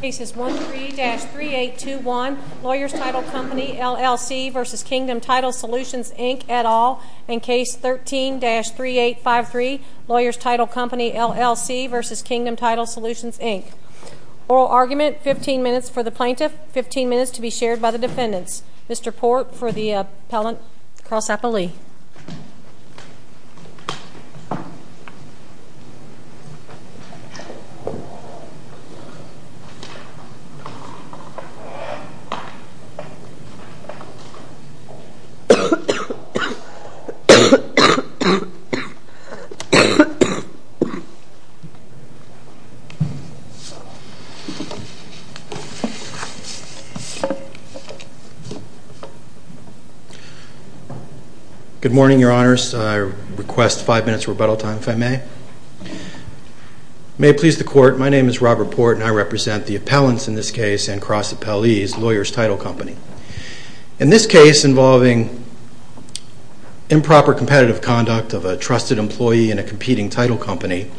Cases 13-3821, Lawyers Title Company LLC v. Kingdom Title Solutions, Inc. et al. And Case 13-3853, Lawyers Title Company LLC v. Kingdom Title Solutions, Inc. Oral argument, 15 minutes for the plaintiff, 15 minutes to be shared by the defendants. Mr. Port for the appellant, Carl Sapa-Lee. Good morning, your honors. I request five minutes of rebuttal time, if I may. May it please the court, my name is Robert Port and I represent the appellants in this case and Carl Sapa-Lee's Lawyers Title Company. In this case involving improper competitive conduct of a trusted employee in a competing title company,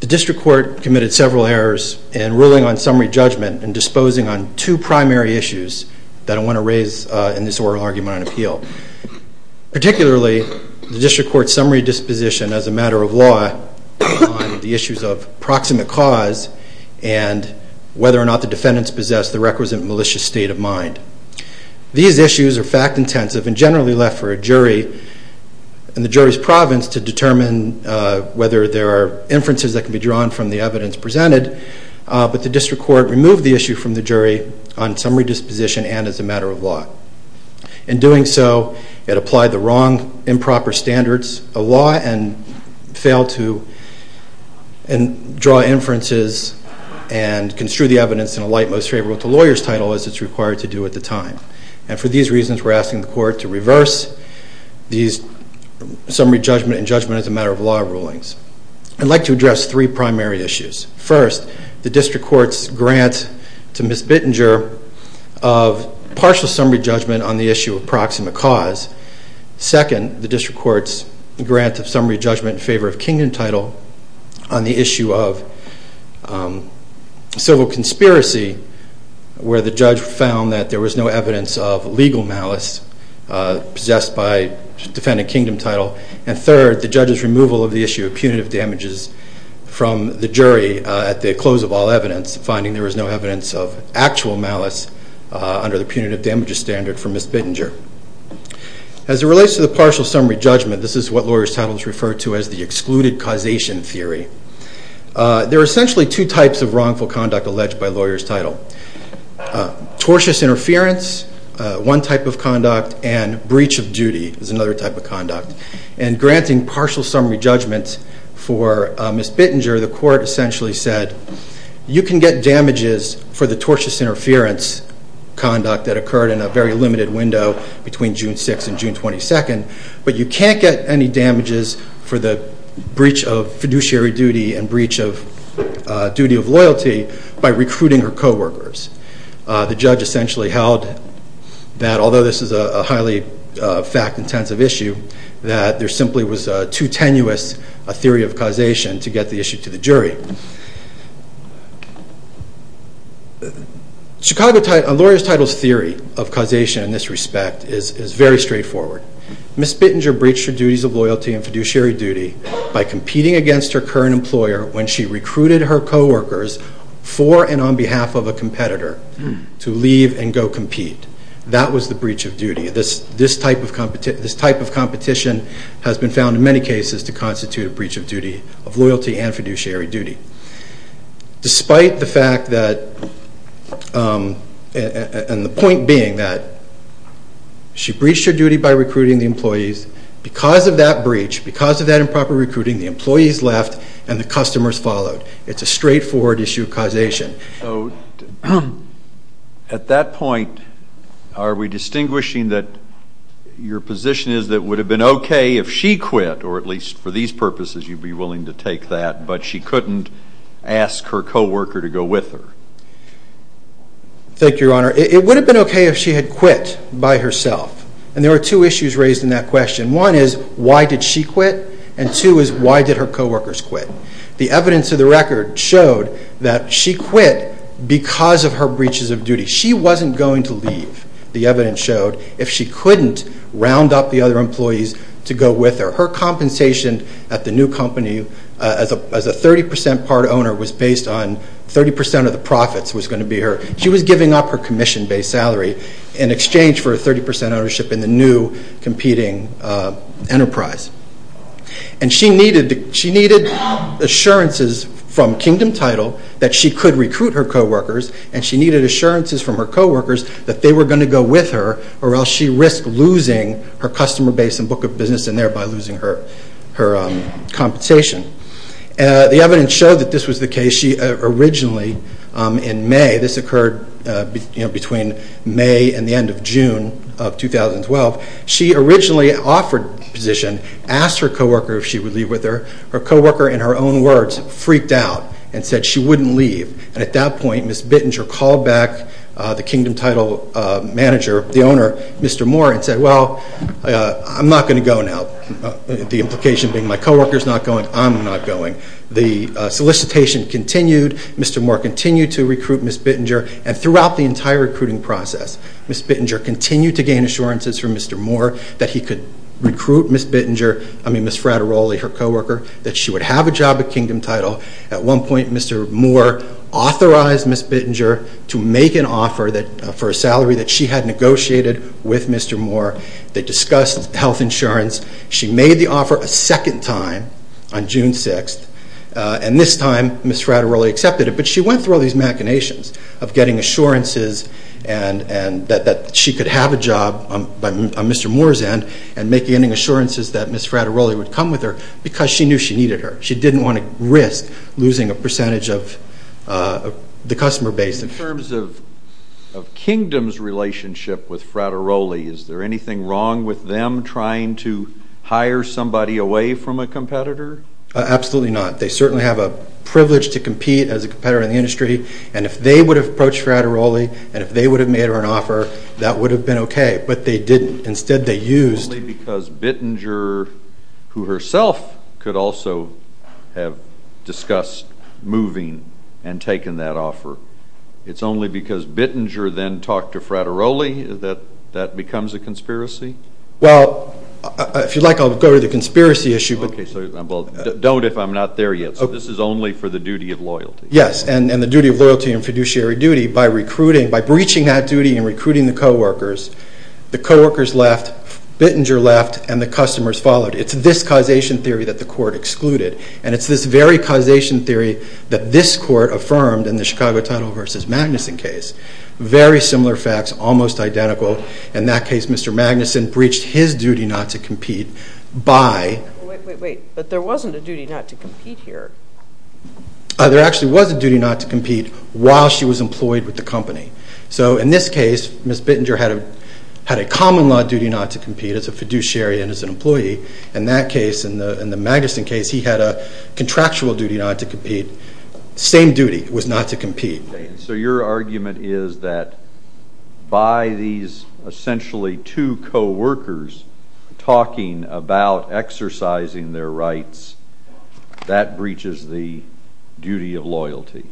the district court committed several errors in ruling on summary judgment and disposing on two primary issues that I want to raise in this oral argument and appeal. Particularly, the district court's summary disposition as a matter of law on the issues of proximate cause and whether or not the defendants possess the requisite malicious state of mind. These issues are fact intensive and generally left for a jury in the jury's province to determine whether there are inferences that can be drawn from the evidence presented, but the district court removed the issue from the jury on summary disposition and as a matter of law. In doing so, it applied the wrong improper standards of law and failed to draw inferences and construe the evidence in a light most favorable to lawyers title as it's required to do at the time. And for these reasons, we're asking the court to reverse these summary judgment and judgment as a matter of law rulings. I'd like to address three primary issues. First, the district court's grant to Ms. Bittinger of partial summary judgment on the issue of proximate cause. Second, the district court's grant of summary judgment in favor of kingdom title on the issue of civil conspiracy where the judge found that there was no evidence of legal malice possessed by defendant kingdom title. And third, the judge's removal of the issue of punitive damages from the jury at the close of all evidence, finding there was no evidence of actual malice under the punitive damages standard for Ms. Bittinger. As it relates to the partial summary judgment, this is what lawyers title is referred to as the excluded causation theory. There are essentially two types of wrongful conduct alleged by lawyers title. Tortious interference, one type of conduct, and breach of duty is another type of conduct. And granting partial summary judgment for Ms. Bittinger, the court essentially said you can get damages for the tortious interference conduct that occurred in a very limited window between June 6th and June 22nd, but you can't get any damages for the breach of fiduciary duty and breach of duty of loyalty by recruiting her coworkers. The judge essentially held that although this is a highly fact-intensive issue, that there simply was too tenuous a theory of causation to get the issue to the jury. A lawyer's title's theory of causation in this respect is very straightforward. Ms. Bittinger breached her duties of loyalty and fiduciary duty by competing against her current employer when she recruited her coworkers for and on behalf of a competitor to leave and go compete. That was the breach of duty. This type of competition has been found in many cases to constitute a breach of duty of loyalty and fiduciary duty. Despite the fact that, and the point being that she breached her duty by recruiting the employees. Because of that breach, because of that improper recruiting, the employees left and the customers followed. It's a straightforward issue of causation. At that point, are we distinguishing that your position is that it would have been okay if she quit, or at least for these purposes you'd be willing to take that, but she couldn't ask her coworker to go with her? Thank you, Your Honor. It would have been okay if she had quit by herself. And there were two issues raised in that question. One is, why did she quit? And two is, why did her coworkers quit? The evidence of the record showed that she quit because of her breaches of duty. She wasn't going to leave, the evidence showed, if she couldn't round up the other employees to go with her. Her compensation at the new company as a 30% part owner was based on 30% of the profits was going to be her. She was giving up her commission-based salary in exchange for her 30% ownership in the new competing enterprise. And she needed assurances from Kingdom Title that she could recruit her coworkers, and she needed assurances from her coworkers that they were going to go with her, or else she risked losing her customer base and book of business and thereby losing her compensation. The evidence showed that this was the case. She originally, in May, this occurred between May and the end of June of 2012, she originally offered the position, asked her coworker if she would leave with her. Her coworker, in her own words, freaked out and said she wouldn't leave. And at that point, Ms. Bittinger called back the Kingdom Title manager, the owner, Mr. Moore, and said, well, I'm not going to go now, the implication being my coworker's not going, I'm not going. The solicitation continued, Mr. Moore continued to recruit Ms. Bittinger, and throughout the entire recruiting process, Ms. Bittinger continued to gain assurances from Mr. Moore that he could recruit Ms. Bittinger, I mean Ms. Frateroli, her coworker, that she would have a job at Kingdom Title. At one point, Mr. Moore authorized Ms. Bittinger to make an offer for a salary that she had negotiated with Mr. Moore. They discussed health insurance. She made the offer a second time on June 6th, and this time Ms. Frateroli accepted it, but she went through all these machinations of getting assurances that she could have a job on Mr. Moore's end and making assurances that Ms. Frateroli would come with her because she knew she needed her. She didn't want to risk losing a percentage of the customer base. In terms of Kingdom's relationship with Frateroli, is there anything wrong with them trying to hire somebody away from a competitor? Absolutely not. They certainly have a privilege to compete as a competitor in the industry, and if they would have approached Frateroli and if they would have made her an offer, that would have been okay, but they didn't. Instead, they used. Only because Bittinger, who herself could also have discussed moving and taking that offer. It's only because Bittinger then talked to Frateroli that that becomes a conspiracy? Well, if you'd like, I'll go to the conspiracy issue. Don't if I'm not there yet. So this is only for the duty of loyalty? Yes, and the duty of loyalty and fiduciary duty by recruiting, by breaching that duty and recruiting the coworkers, the coworkers left, Bittinger left, and the customers followed. It's this causation theory that the court excluded, and it's this very causation theory that this court affirmed in the Chicago Title v. Magnuson case. Very similar facts, almost identical. In that case, Mr. Magnuson breached his duty not to compete by. Wait, wait, wait, but there wasn't a duty not to compete here. There actually was a duty not to compete while she was employed with the company. So in this case, Ms. Bittinger had a common law duty not to compete as a fiduciary and as an employee. In that case, in the Magnuson case, he had a contractual duty not to compete. Same duty was not to compete. So your argument is that by these essentially two coworkers talking about exercising their rights, that breaches the duty of loyalty.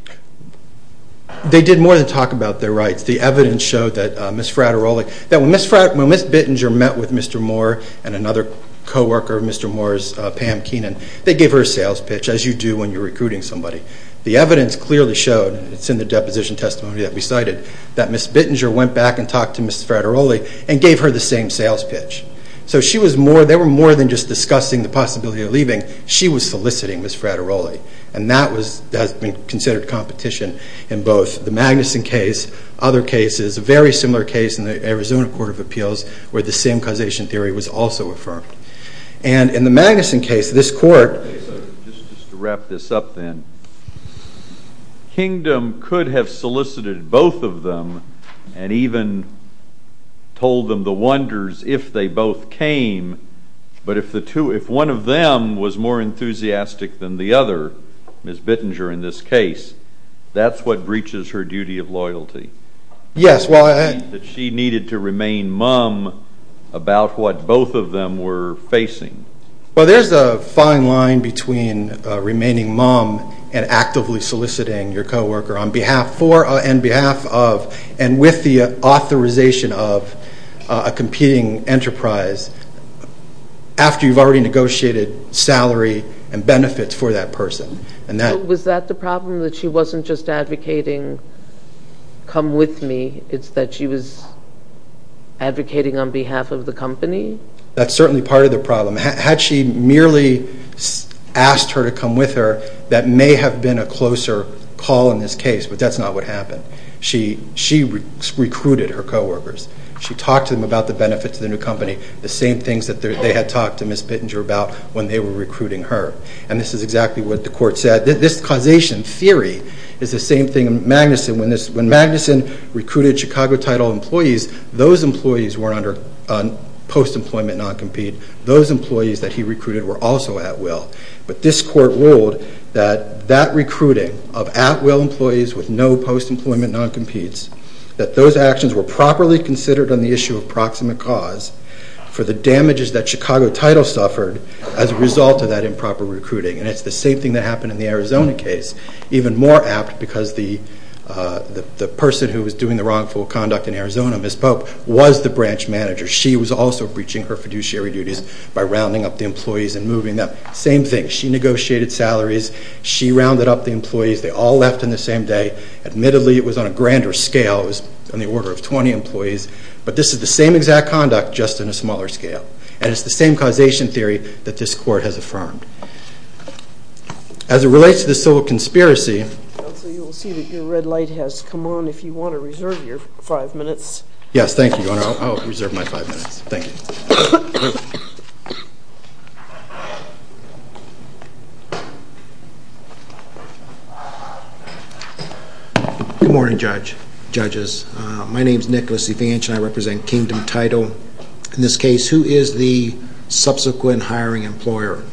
They did more than talk about their rights. The evidence showed that Ms. Fraterolic, that when Ms. Bittinger met with Mr. Moore and another coworker of Mr. Moore's, Pam Keenan, they gave her a sales pitch, as you do when you're recruiting somebody. The evidence clearly showed, and it's in the deposition testimony that we cited, that Ms. Bittinger went back and talked to Ms. Fraterolic and gave her the same sales pitch. So they were more than just discussing the possibility of leaving. She was soliciting Ms. Fraterolic, and that has been considered competition in both the Magnuson case, other cases, a very similar case in the Arizona Court of Appeals where the same causation theory was also affirmed. And in the Magnuson case, this court... Just to wrap this up then, Kingdom could have solicited both of them and even told them the wonders if they both came, but if one of them was more enthusiastic than the other, Ms. Bittinger in this case, that she needed to remain mum about what both of them were facing. Well, there's a fine line between remaining mum and actively soliciting your coworker on behalf of and with the authorization of a competing enterprise after you've already negotiated salary and benefits for that person. Was that the problem, that she wasn't just advocating come with me? It's that she was advocating on behalf of the company? That's certainly part of the problem. Had she merely asked her to come with her, that may have been a closer call in this case, but that's not what happened. She recruited her coworkers. She talked to them about the benefits of the new company, the same things that they had talked to Ms. Bittinger about when they were recruiting her. And this is exactly what the court said. This causation theory is the same thing in Magnuson. When Magnuson recruited Chicago Title employees, those employees were under post-employment non-compete. Those employees that he recruited were also at will. But this court ruled that that recruiting of at-will employees with no post-employment non-competes, that those actions were properly considered on the issue of proximate cause for the damages that Chicago Title suffered as a result of that improper recruiting. And it's the same thing that happened in the Arizona case, even more apt because the person who was doing the wrongful conduct in Arizona, Ms. Pope, was the branch manager. She was also breaching her fiduciary duties by rounding up the employees and moving them. Same thing. She negotiated salaries. She rounded up the employees. They all left on the same day. Admittedly, it was on a grander scale. It was on the order of 20 employees. But this is the same exact conduct, just in a smaller scale. And it's the same causation theory that this court has affirmed. As it relates to the civil conspiracy. Counsel, you will see that your red light has come on if you want to reserve your five minutes. Yes, thank you, Your Honor. I'll reserve my five minutes. Thank you. Good morning, judges. My name is Nicholas Evanch, and I represent Kingdom Title. In this case, who is the subsequent hiring employer?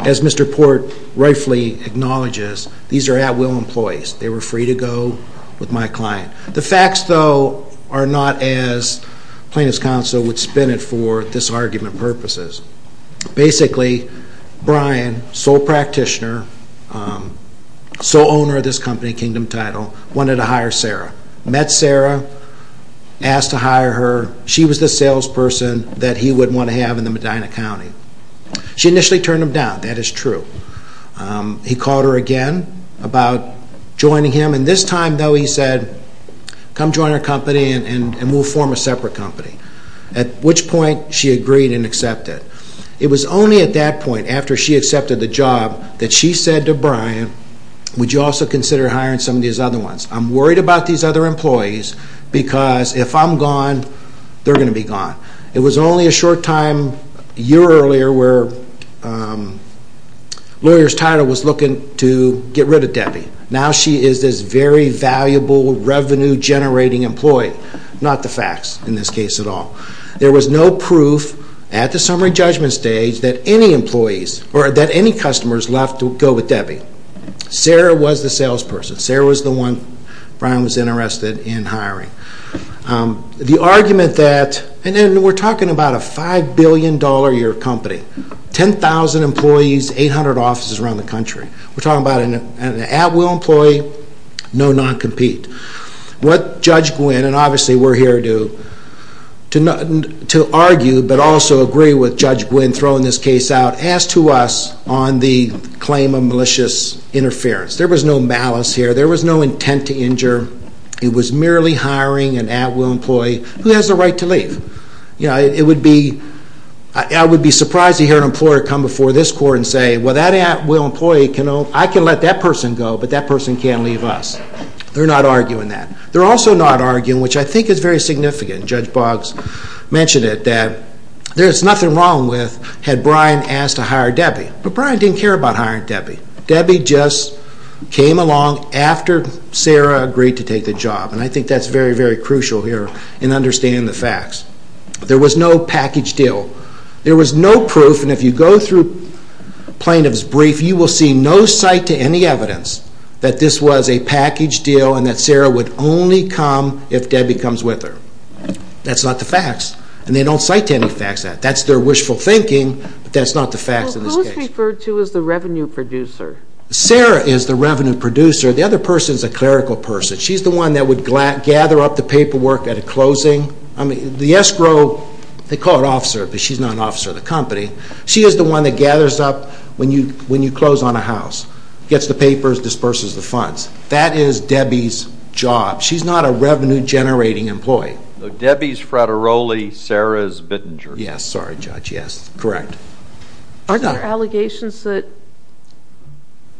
As Mr. Port rightfully acknowledges, these are at-will employees. They were free to go with my client. The facts, though, are not as plaintiff's counsel would spin it for disargument purposes. Basically, Brian, sole practitioner, sole owner of this company, Kingdom Title, wanted to hire Sarah. Met Sarah, asked to hire her. She was the salesperson that he would want to have in the Medina County. She initially turned him down. That is true. He called her again about joining him. And this time, though, he said, come join our company and we'll form a separate company. At which point, she agreed and accepted. It was only at that point, after she accepted the job, that she said to Brian, would you also consider hiring some of these other ones? I'm worried about these other employees because if I'm gone, they're going to be gone. It was only a short time, a year earlier, where Lawyer's Title was looking to get rid of Debbie. Now she is this very valuable, revenue-generating employee. Not the facts in this case at all. There was no proof at the summary judgment stage that any employees or that any customers left to go with Debbie. Sarah was the salesperson. Sarah was the one Brian was interested in hiring. The argument that, and we're talking about a $5 billion-a-year company, 10,000 employees, 800 offices around the country. We're talking about an at-will employee, no non-compete. What Judge Gwynne, and obviously we're here to argue but also agree with Judge Gwynne throwing this case out, asked to us on the claim of malicious interference. There was no malice here. There was no intent to injure. It was merely hiring an at-will employee who has the right to leave. I would be surprised to hear an employer come before this court and say, well, that at-will employee, I can let that person go, but that person can't leave us. They're not arguing that. They're also not arguing, which I think is very significant, Judge Boggs mentioned it, that there's nothing wrong with had Brian asked to hire Debbie. But Brian didn't care about hiring Debbie. Debbie just came along after Sarah agreed to take the job, and I think that's very, very crucial here in understanding the facts. There was no package deal. There was no proof, and if you go through plaintiff's brief, you will see no cite to any evidence that this was a package deal and that Sarah would only come if Debbie comes with her. That's not the facts, and they don't cite to any facts that. That's their wishful thinking, but that's not the facts in this case. Who is referred to as the revenue producer? Sarah is the revenue producer. The other person is a clerical person. She's the one that would gather up the paperwork at a closing. The escrow, they call it officer, but she's not an officer of the company. She is the one that gathers up when you close on a house, gets the papers, disperses the funds. That is Debbie's job. She's not a revenue-generating employee. Debbie's Frateroli. Sarah's Bittinger. Yes. Sorry, Judge. Yes, correct. Are there allegations that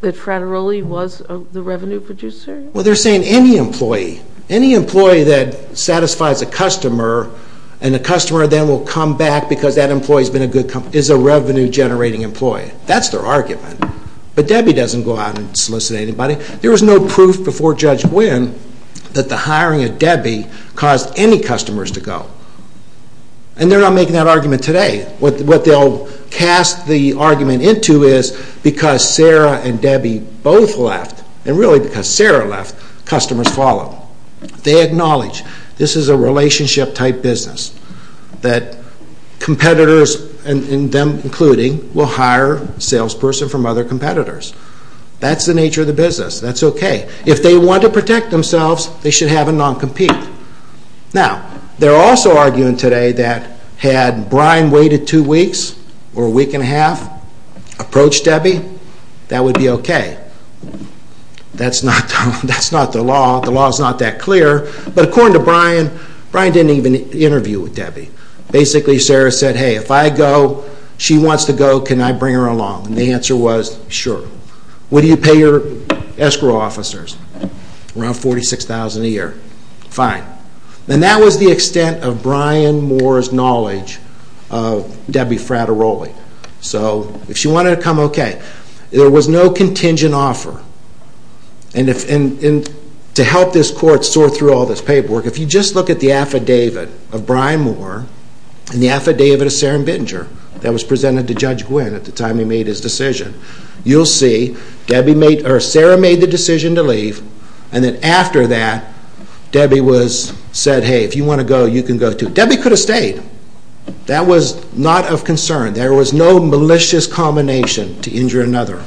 Frateroli was the revenue producer? Well, they're saying any employee, any employee that satisfies a customer and the customer then will come back because that employee has been a good company, is a revenue-generating employee. That's their argument. But Debbie doesn't go out and solicit anybody. There was no proof before Judge Gwynn that the hiring of Debbie caused any customers to go, and they're not making that argument today. What they'll cast the argument into is because Sarah and Debbie both left, and really because Sarah left, customers followed. They acknowledge this is a relationship-type business, that competitors, and them including, will hire a salesperson from other competitors. That's the nature of the business. That's okay. If they want to protect themselves, they should have a non-compete. Now, they're also arguing today that had Brian waited two weeks or a week and a half, approached Debbie, that would be okay. That's not the law. The law is not that clear. But according to Brian, Brian didn't even interview with Debbie. Basically, Sarah said, hey, if I go, she wants to go, can I bring her along? And the answer was, sure. What do you pay your escrow officers? Around $46,000 a year. Fine. And that was the extent of Brian Moore's knowledge of Debbie Frateroli. So if she wanted to come, okay. There was no contingent offer. And to help this court sort through all this paperwork, if you just look at the affidavit of Brian Moore and the affidavit of Sarah Bittinger that was presented to Judge Gwynne at the time he made his decision, you'll see Sarah made the decision to leave. And then after that, Debbie said, hey, if you want to go, you can go too. Debbie could have stayed. That was not of concern. There was no malicious combination to injure another.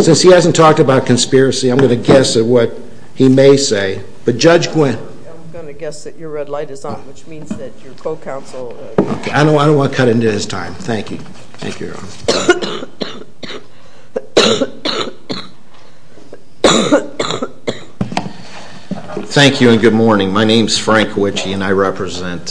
Since he hasn't talked about conspiracy, I'm going to guess at what he may say. But Judge Gwynne. I'm going to guess that your red light is on, which means that your co-counsel. I don't want to cut into his time. Thank you. Thank you, Your Honor. Thank you and good morning. My name is Frank Wichey, and I represent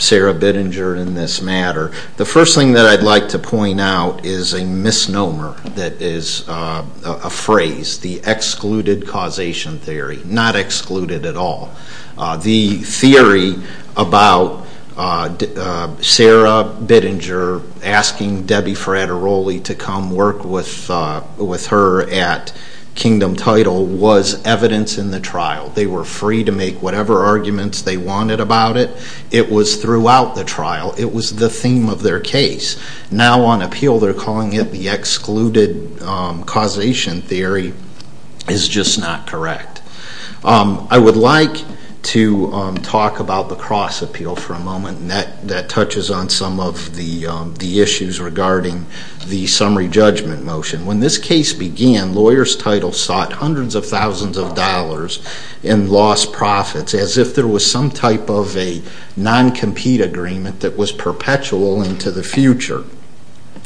Sarah Bittinger in this matter. The first thing that I'd like to point out is a misnomer that is a phrase, the excluded causation theory, not excluded at all. The theory about Sarah Bittinger asking Debbie Frateroli to come work with her at Kingdom Title was evidence in the trial. They were free to make whatever arguments they wanted about it. It was throughout the trial. It was the theme of their case. Now on appeal they're calling it the excluded causation theory is just not correct. I would like to talk about the cross appeal for a moment, and that touches on some of the issues regarding the summary judgment motion. When this case began, lawyers' titles sought hundreds of thousands of dollars and lost profits as if there was some type of a non-compete agreement that was perpetual into the future.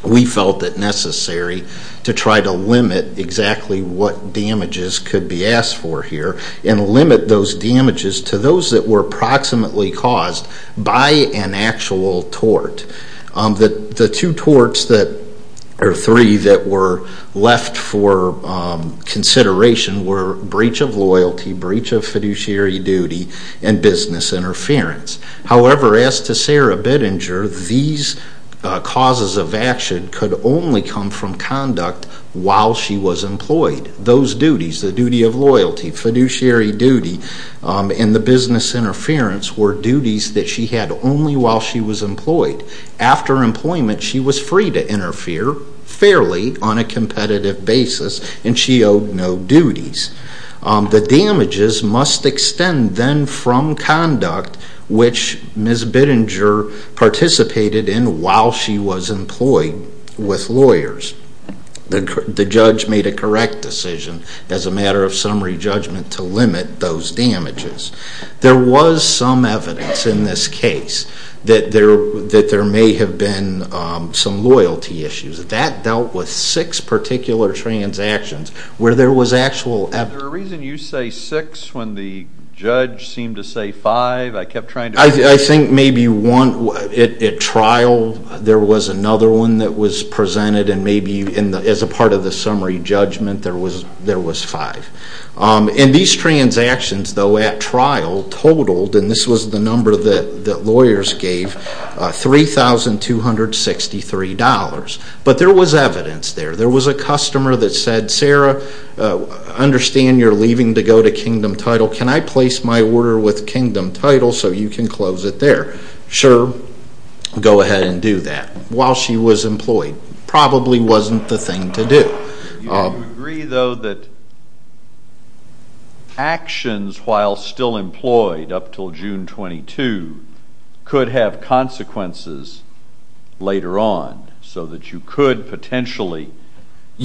We felt it necessary to try to limit exactly what damages could be asked for here and limit those damages to those that were approximately caused by an actual tort. The two torts or three that were left for consideration were breach of loyalty, breach of fiduciary duty, and business interference. However, as to Sarah Bittinger, these causes of action could only come from conduct while she was employed. Those duties, the duty of loyalty, fiduciary duty, and the business interference were duties that she had only while she was employed. After employment, she was free to interfere fairly on a competitive basis, and she owed no duties. The damages must extend then from conduct which Ms. Bittinger participated in while she was employed with lawyers. The judge made a correct decision as a matter of summary judgment to limit those damages. There was some evidence in this case that there may have been some loyalty issues. That dealt with six particular transactions where there was actual evidence. Is there a reason you say six when the judge seemed to say five? I think maybe at trial there was another one that was presented, and maybe as a part of the summary judgment there was five. These transactions, though, at trial totaled, and this was the number that lawyers gave, $3,263. But there was evidence there. There was a customer that said, Sarah, I understand you're leaving to go to Kingdom Title. Can I place my order with Kingdom Title so you can close it there? Sure, go ahead and do that. While she was employed, probably wasn't the thing to do. Do you agree, though, that actions while still employed up until June 22 could have consequences later on, so that you could potentially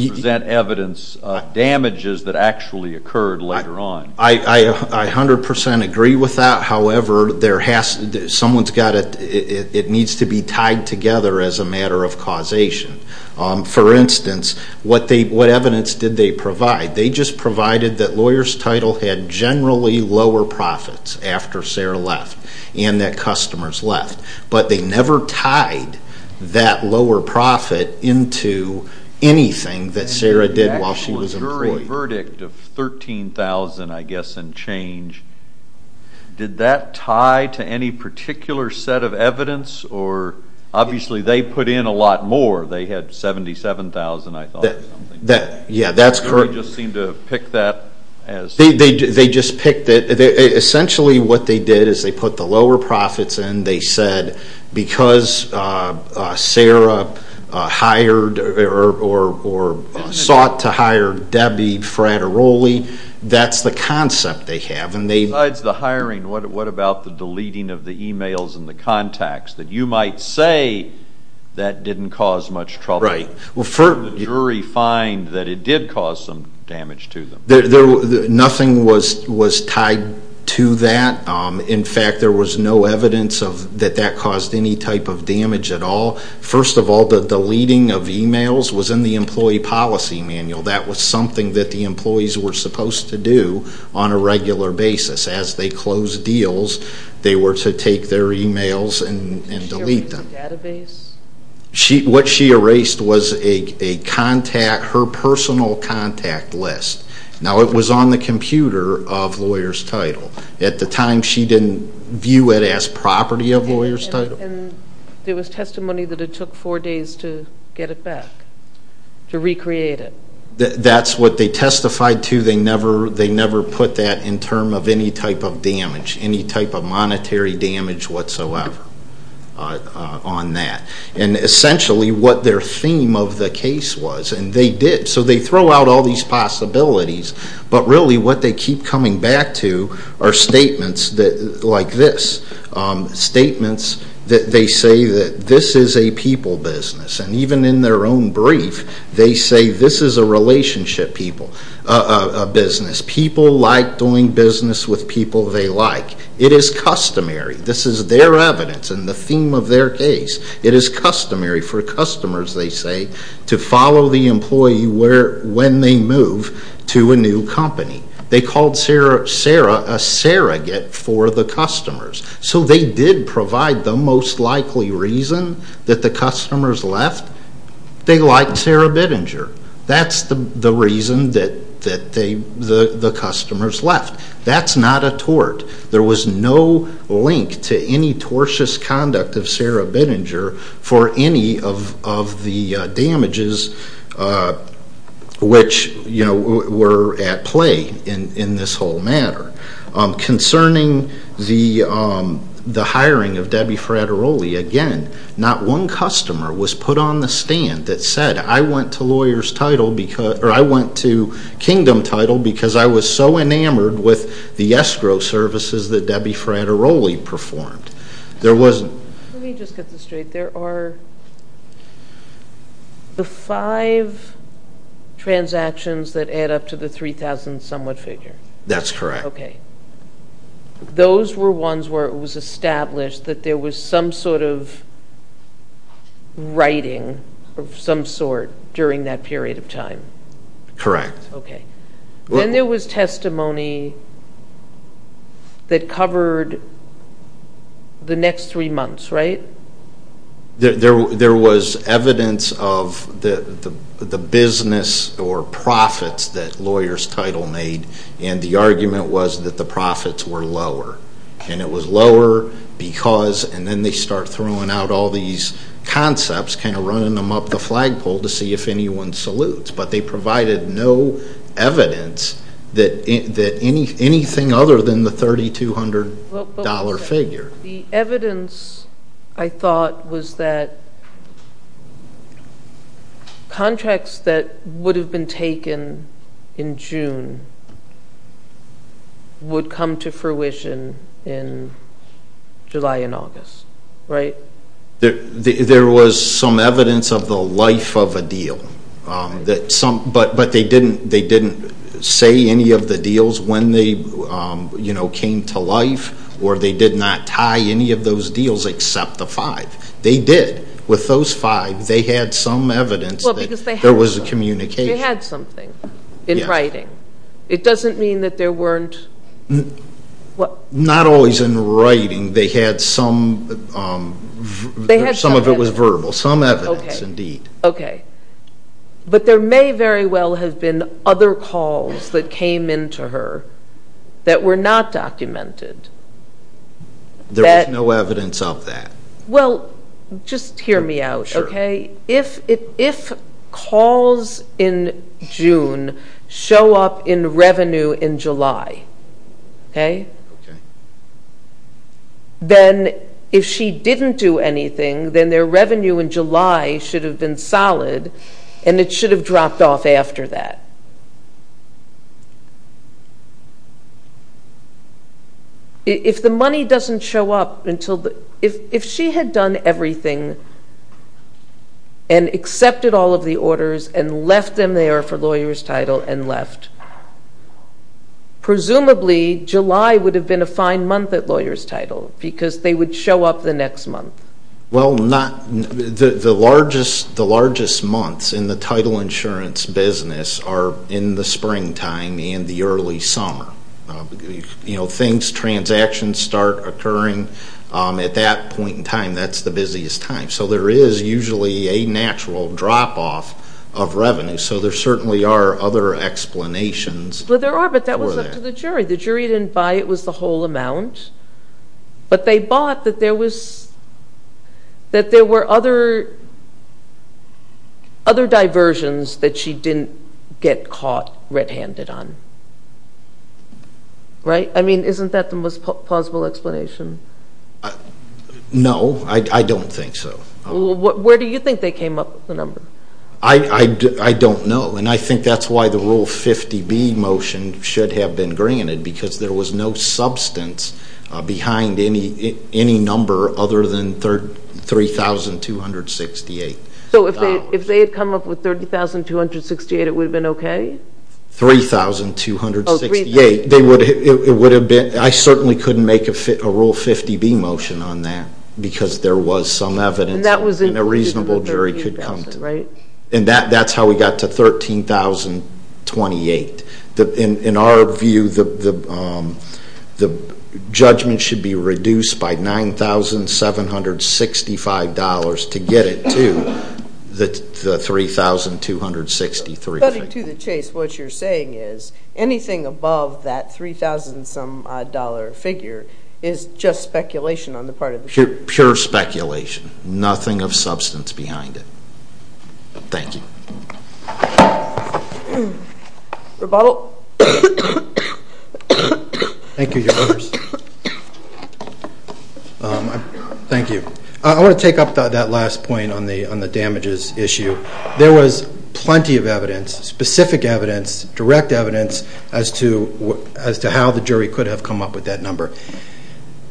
present evidence of damages that actually occurred later on? I 100% agree with that. However, it needs to be tied together as a matter of causation. For instance, what evidence did they provide? They just provided that lawyers' title had generally lower profits after Sarah left and that customers left, but they never tied that lower profit into anything that Sarah did while she was employed. The jury verdict of $13,000, I guess, and change, did that tie to any particular set of evidence? Obviously, they put in a lot more. They had $77,000, I thought, or something. Yeah, that's correct. They just seemed to pick that as... They just picked it. Essentially, what they did is they put the lower profits in. They said because Sarah hired or sought to hire Debbie Frateroli, that's the concept they have. Besides the hiring, what about the deleting of the e-mails and the contacts, that you might say that didn't cause much trouble? Right. What did the jury find that it did cause some damage to them? Nothing was tied to that. In fact, there was no evidence that that caused any type of damage at all. First of all, the deleting of e-mails was in the employee policy manual. That was something that the employees were supposed to do on a regular basis. As they closed deals, they were to take their e-mails and delete them. Did she erase the database? What she erased was her personal contact list. Now, it was on the computer of lawyer's title. At the time, she didn't view it as property of lawyer's title. There was testimony that it took four days to get it back, to recreate it. That's what they testified to. They never put that in term of any type of damage, any type of monetary damage whatsoever on that. Essentially, what their theme of the case was, and they did. They throw out all these possibilities, but really what they keep coming back to are statements like this. Statements that they say that this is a people business. Even in their own brief, they say this is a relationship business. People like doing business with people they like. It is customary. This is their evidence and the theme of their case. It is customary for customers, they say, to follow the employee when they move to a new company. They called Sarah a surrogate for the customers. So they did provide the most likely reason that the customers left. They liked Sarah Bittinger. That's the reason that the customers left. That's not a tort. There was no link to any tortious conduct of Sarah Bittinger for any of the damages which were at play in this whole matter. Concerning the hiring of Debbie Frateroli, again, not one customer was put on the stand that said, I went to Kingdom Title because I was so enamored with the escrow services that Debbie Frateroli performed. There wasn't. Let me just get this straight. There are the five transactions that add up to the 3,000-somewhat figure. That's correct. Okay. Those were ones where it was established that there was some sort of writing of some sort during that period of time. Correct. Okay. Then there was testimony that covered the next three months, right? There was evidence of the business or profits that Lawyer's Title made, and the argument was that the profits were lower. And it was lower because, and then they start throwing out all these concepts, kind of running them up the flagpole to see if anyone salutes. But they provided no evidence that anything other than the $3,200 figure. The evidence, I thought, was that contracts that would have been taken in June would come to fruition in July and August, right? There was some evidence of the life of a deal. But they didn't say any of the deals when they came to life, or they did not tie any of those deals except the five. They did. With those five, they had some evidence that there was a communication. They had something in writing. It doesn't mean that there weren't. Not always in writing. They had some. Some of it was verbal. Some evidence, indeed. Okay. But there may very well have been other calls that came in to her that were not documented. There was no evidence of that. Well, just hear me out, okay? Sure. If calls in June show up in revenue in July, okay, then if she didn't do anything, then their revenue in July should have been solid, and it should have dropped off after that. If the money doesn't show up until the ‑‑ if she had done everything and accepted all of the orders and left them there for lawyer's title and left, presumably July would have been a fine month at lawyer's title because they would show up the next month. Well, the largest months in the title insurance business are in the springtime and the early summer. You know, things, transactions start occurring at that point in time. That's the busiest time. So there is usually a natural drop off of revenue. So there certainly are other explanations for that. Well, there are, but that was up to the jury. The jury didn't buy it was the whole amount, but they bought that there was ‑‑ that there were other diversions that she didn't get caught red‑handed on. Right? I mean, isn't that the most plausible explanation? No, I don't think so. Where do you think they came up with the number? I don't know. And I think that's why the Rule 50B motion should have been granted because there was no substance behind any number other than $3,268. So if they had come up with $30,268, it would have been okay? $3,268. Oh, $3,268. It would have been ‑‑ I certainly couldn't make a Rule 50B motion on that because there was some evidence and a reasonable jury could come to it. And that's how we got to $13,028. In our view, the judgment should be reduced by $9,765 to get it to the $3,263 figure. According to the Chase, what you're saying is anything above that $3,000 figure is just speculation on the part of the jury. Pure speculation. Nothing of substance behind it. Thank you. Rebault. Thank you, Your Honors. Thank you. I want to take up that last point on the damages issue. There was plenty of evidence, specific evidence, direct evidence, as to how the jury could have come up with that number.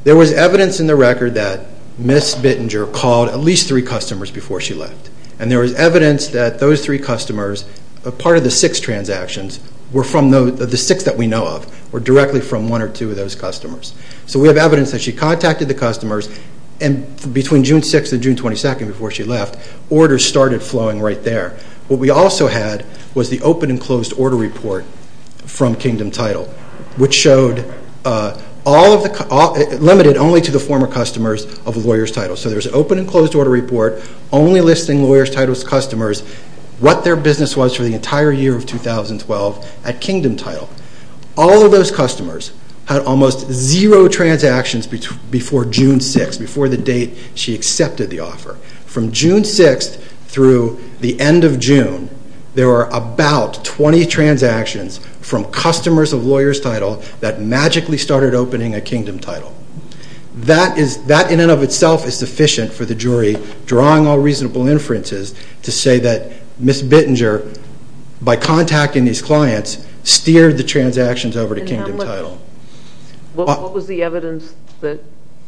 There was evidence in the record that Ms. Bittinger called at least three customers before she left. And there was evidence that those three customers, part of the six transactions, were from the six that we know of, were directly from one or two of those customers. So we have evidence that she contacted the customers, and between June 6th and June 22nd before she left, orders started flowing right there. What we also had was the open and closed order report from Kingdom Title, which limited only to the former customers of Lawyer's Title. So there's an open and closed order report only listing Lawyer's Title's customers, what their business was for the entire year of 2012 at Kingdom Title. All of those customers had almost zero transactions before June 6th, before the date she accepted the offer. From June 6th through the end of June, there were about 20 transactions from customers of Lawyer's Title that magically started opening at Kingdom Title. That in and of itself is sufficient for the jury, drawing all reasonable inferences, to say that Ms. Bittinger, by contacting these clients, steered the transactions over to Kingdom Title. What was the evidence that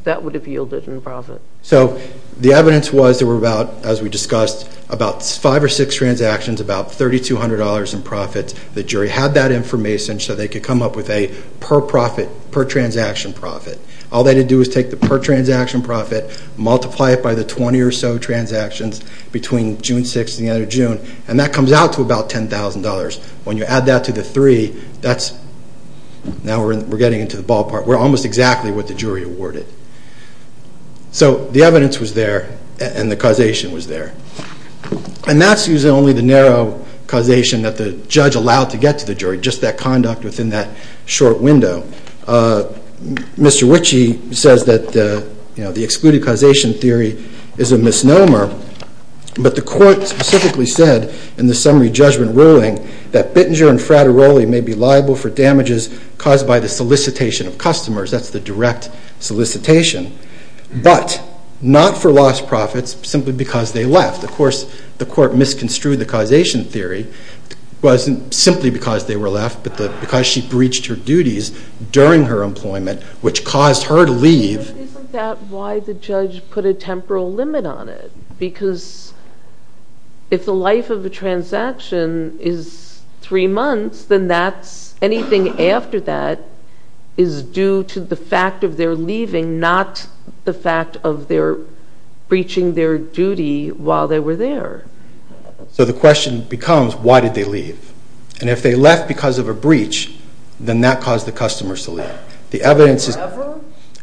that would have yielded in profit? So the evidence was there were about, as we discussed, about five or six transactions, about $3,200 in profits. The jury had that information so they could come up with a per-profit, per-transaction profit. All they had to do was take the per-transaction profit, multiply it by the 20 or so transactions between June 6th and the end of June, and that comes out to about $10,000. When you add that to the three, that's, now we're getting into the ballpark, we're almost exactly what the jury awarded. So the evidence was there and the causation was there. And that's using only the narrow causation that the judge allowed to get to the jury, just that conduct within that short window. Mr. Ritchie says that the excluded causation theory is a misnomer, but the court specifically said in the summary judgment ruling that Bittinger and Frateroli may be liable for damages caused by the solicitation of customers. That's the direct solicitation. But not for lost profits, simply because they left. Of course, the court misconstrued the causation theory. It wasn't simply because they were left, but because she breached her duties during her employment, which caused her to leave. Isn't that why the judge put a temporal limit on it? Because if the life of a transaction is three months, then anything after that is due to the fact of their leaving, not the fact of their breaching their duty while they were there. So the question becomes, why did they leave? And if they left because of a breach, then that caused the customers to leave. Forever?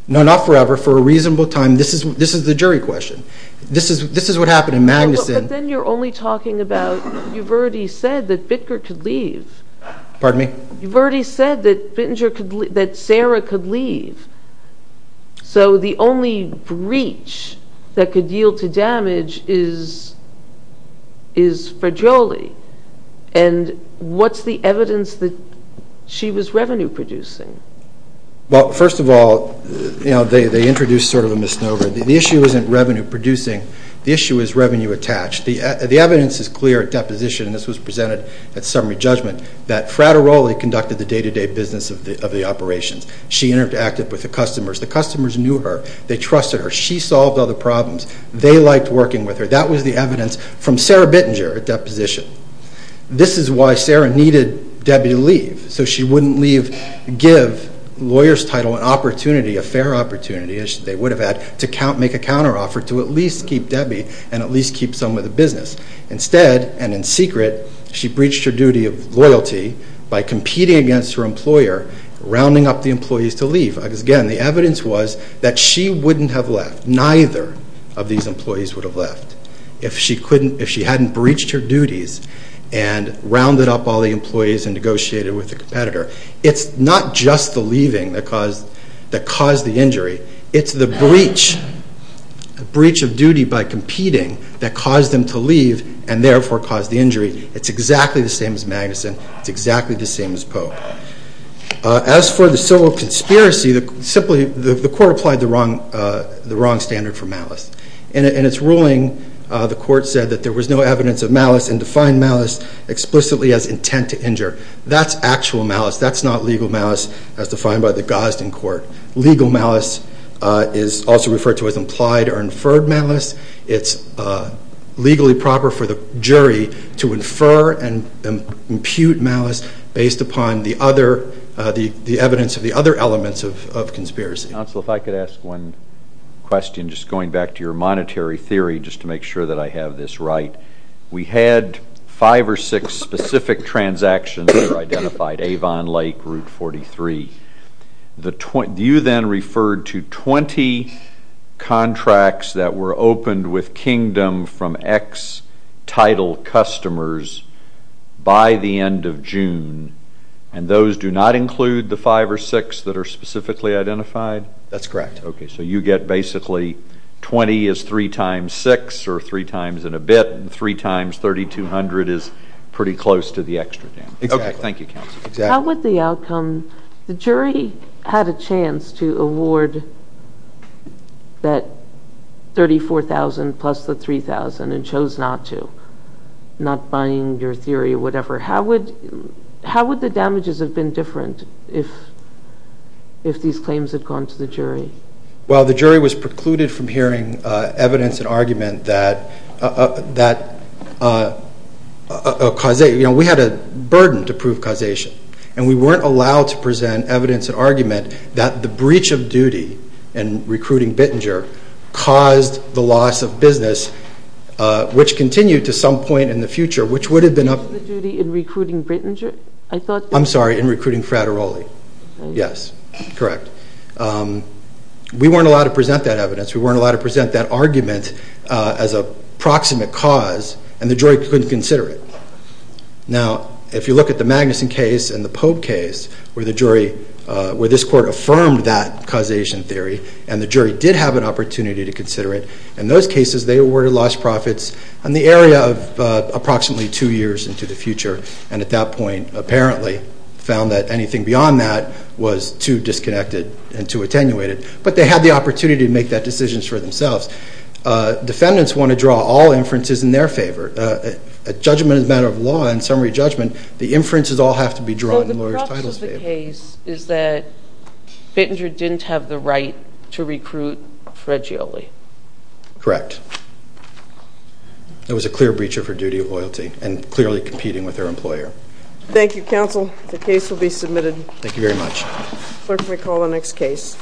No, not forever, for a reasonable time. This is the jury question. This is what happened in Magnuson. But then you're only talking about, you've already said that Bittinger could leave. Pardon me? You've already said that Sarah could leave. So the only breach that could yield to damage is Frateroli. And what's the evidence that she was revenue producing? Well, first of all, they introduced sort of a misnomer. The issue isn't revenue producing. The issue is revenue attached. The evidence is clear at deposition, and this was presented at summary judgment, that Frateroli conducted the day-to-day business of the operations. She interacted with the customers. The customers knew her. They trusted her. She solved all the problems. They liked working with her. That was the evidence from Sarah Bittinger at deposition. This is why Sarah needed Debbie to leave, so she wouldn't give the lawyer's title an opportunity, a fair opportunity, as they would have had, to make a counteroffer to at least keep Debbie and at least keep some of the business. Instead, and in secret, she breached her duty of loyalty by competing against her employer, rounding up the employees to leave. Again, the evidence was that she wouldn't have left. Neither of these employees would have left if she hadn't breached her duties and rounded up all the employees and negotiated with the competitor. It's not just the leaving that caused the injury. It's the breach of duty by competing that caused them to leave and therefore caused the injury. It's exactly the same as Magnuson. It's exactly the same as Pope. As for the civil conspiracy, the court applied the wrong standard for malice. In its ruling, the court said that there was no evidence of malice and defined malice explicitly as intent to injure. That's actual malice. That's not legal malice as defined by the Gosden Court. Legal malice is also referred to as implied or inferred malice. It's legally proper for the jury to infer and impute malice based upon the evidence of the other elements of conspiracy. Counsel, if I could ask one question, just going back to your monetary theory, just to make sure that I have this right. We had five or six specific transactions that are identified, Avon, Lake, Route 43. You then referred to 20 contracts that were opened with Kingdom from ex-Tidal customers by the end of June, and those do not include the five or six that are specifically identified? That's correct. Okay, so you get basically 20 is 3 times 6 or 3 times and a bit, and 3 times 3,200 is pretty close to the extra damage. Exactly. Thank you, Counsel. How would the outcome—the jury had a chance to award that 34,000 plus the 3,000 How would the damages have been different if these claims had gone to the jury? Well, the jury was precluded from hearing evidence and argument that— you know, we had a burden to prove causation, and we weren't allowed to present evidence and argument that the breach of duty in recruiting Bittinger caused the loss of business, which continued to some point in the future, which would have been up— The loss of the duty in recruiting Bittinger, I thought— I'm sorry, in recruiting Frateroli. Yes, correct. We weren't allowed to present that evidence. We weren't allowed to present that argument as a proximate cause, and the jury couldn't consider it. Now, if you look at the Magnuson case and the Pope case, where this court affirmed that causation theory and the jury did have an opportunity to consider it, in those cases, they awarded lost profits in the area of approximately two years into the future, and at that point apparently found that anything beyond that was too disconnected and too attenuated. But they had the opportunity to make that decision for themselves. Defendants want to draw all inferences in their favor. A judgment is a matter of law, and summary judgment, the inferences all have to be drawn in lawyers' titles favor. So the problem with the case is that Bittinger didn't have the right to recruit Frateroli. Correct. It was a clear breacher of her duty of loyalty and clearly competing with her employer. Thank you, counsel. The case will be submitted. Thank you very much. Clerk, may we call the next case?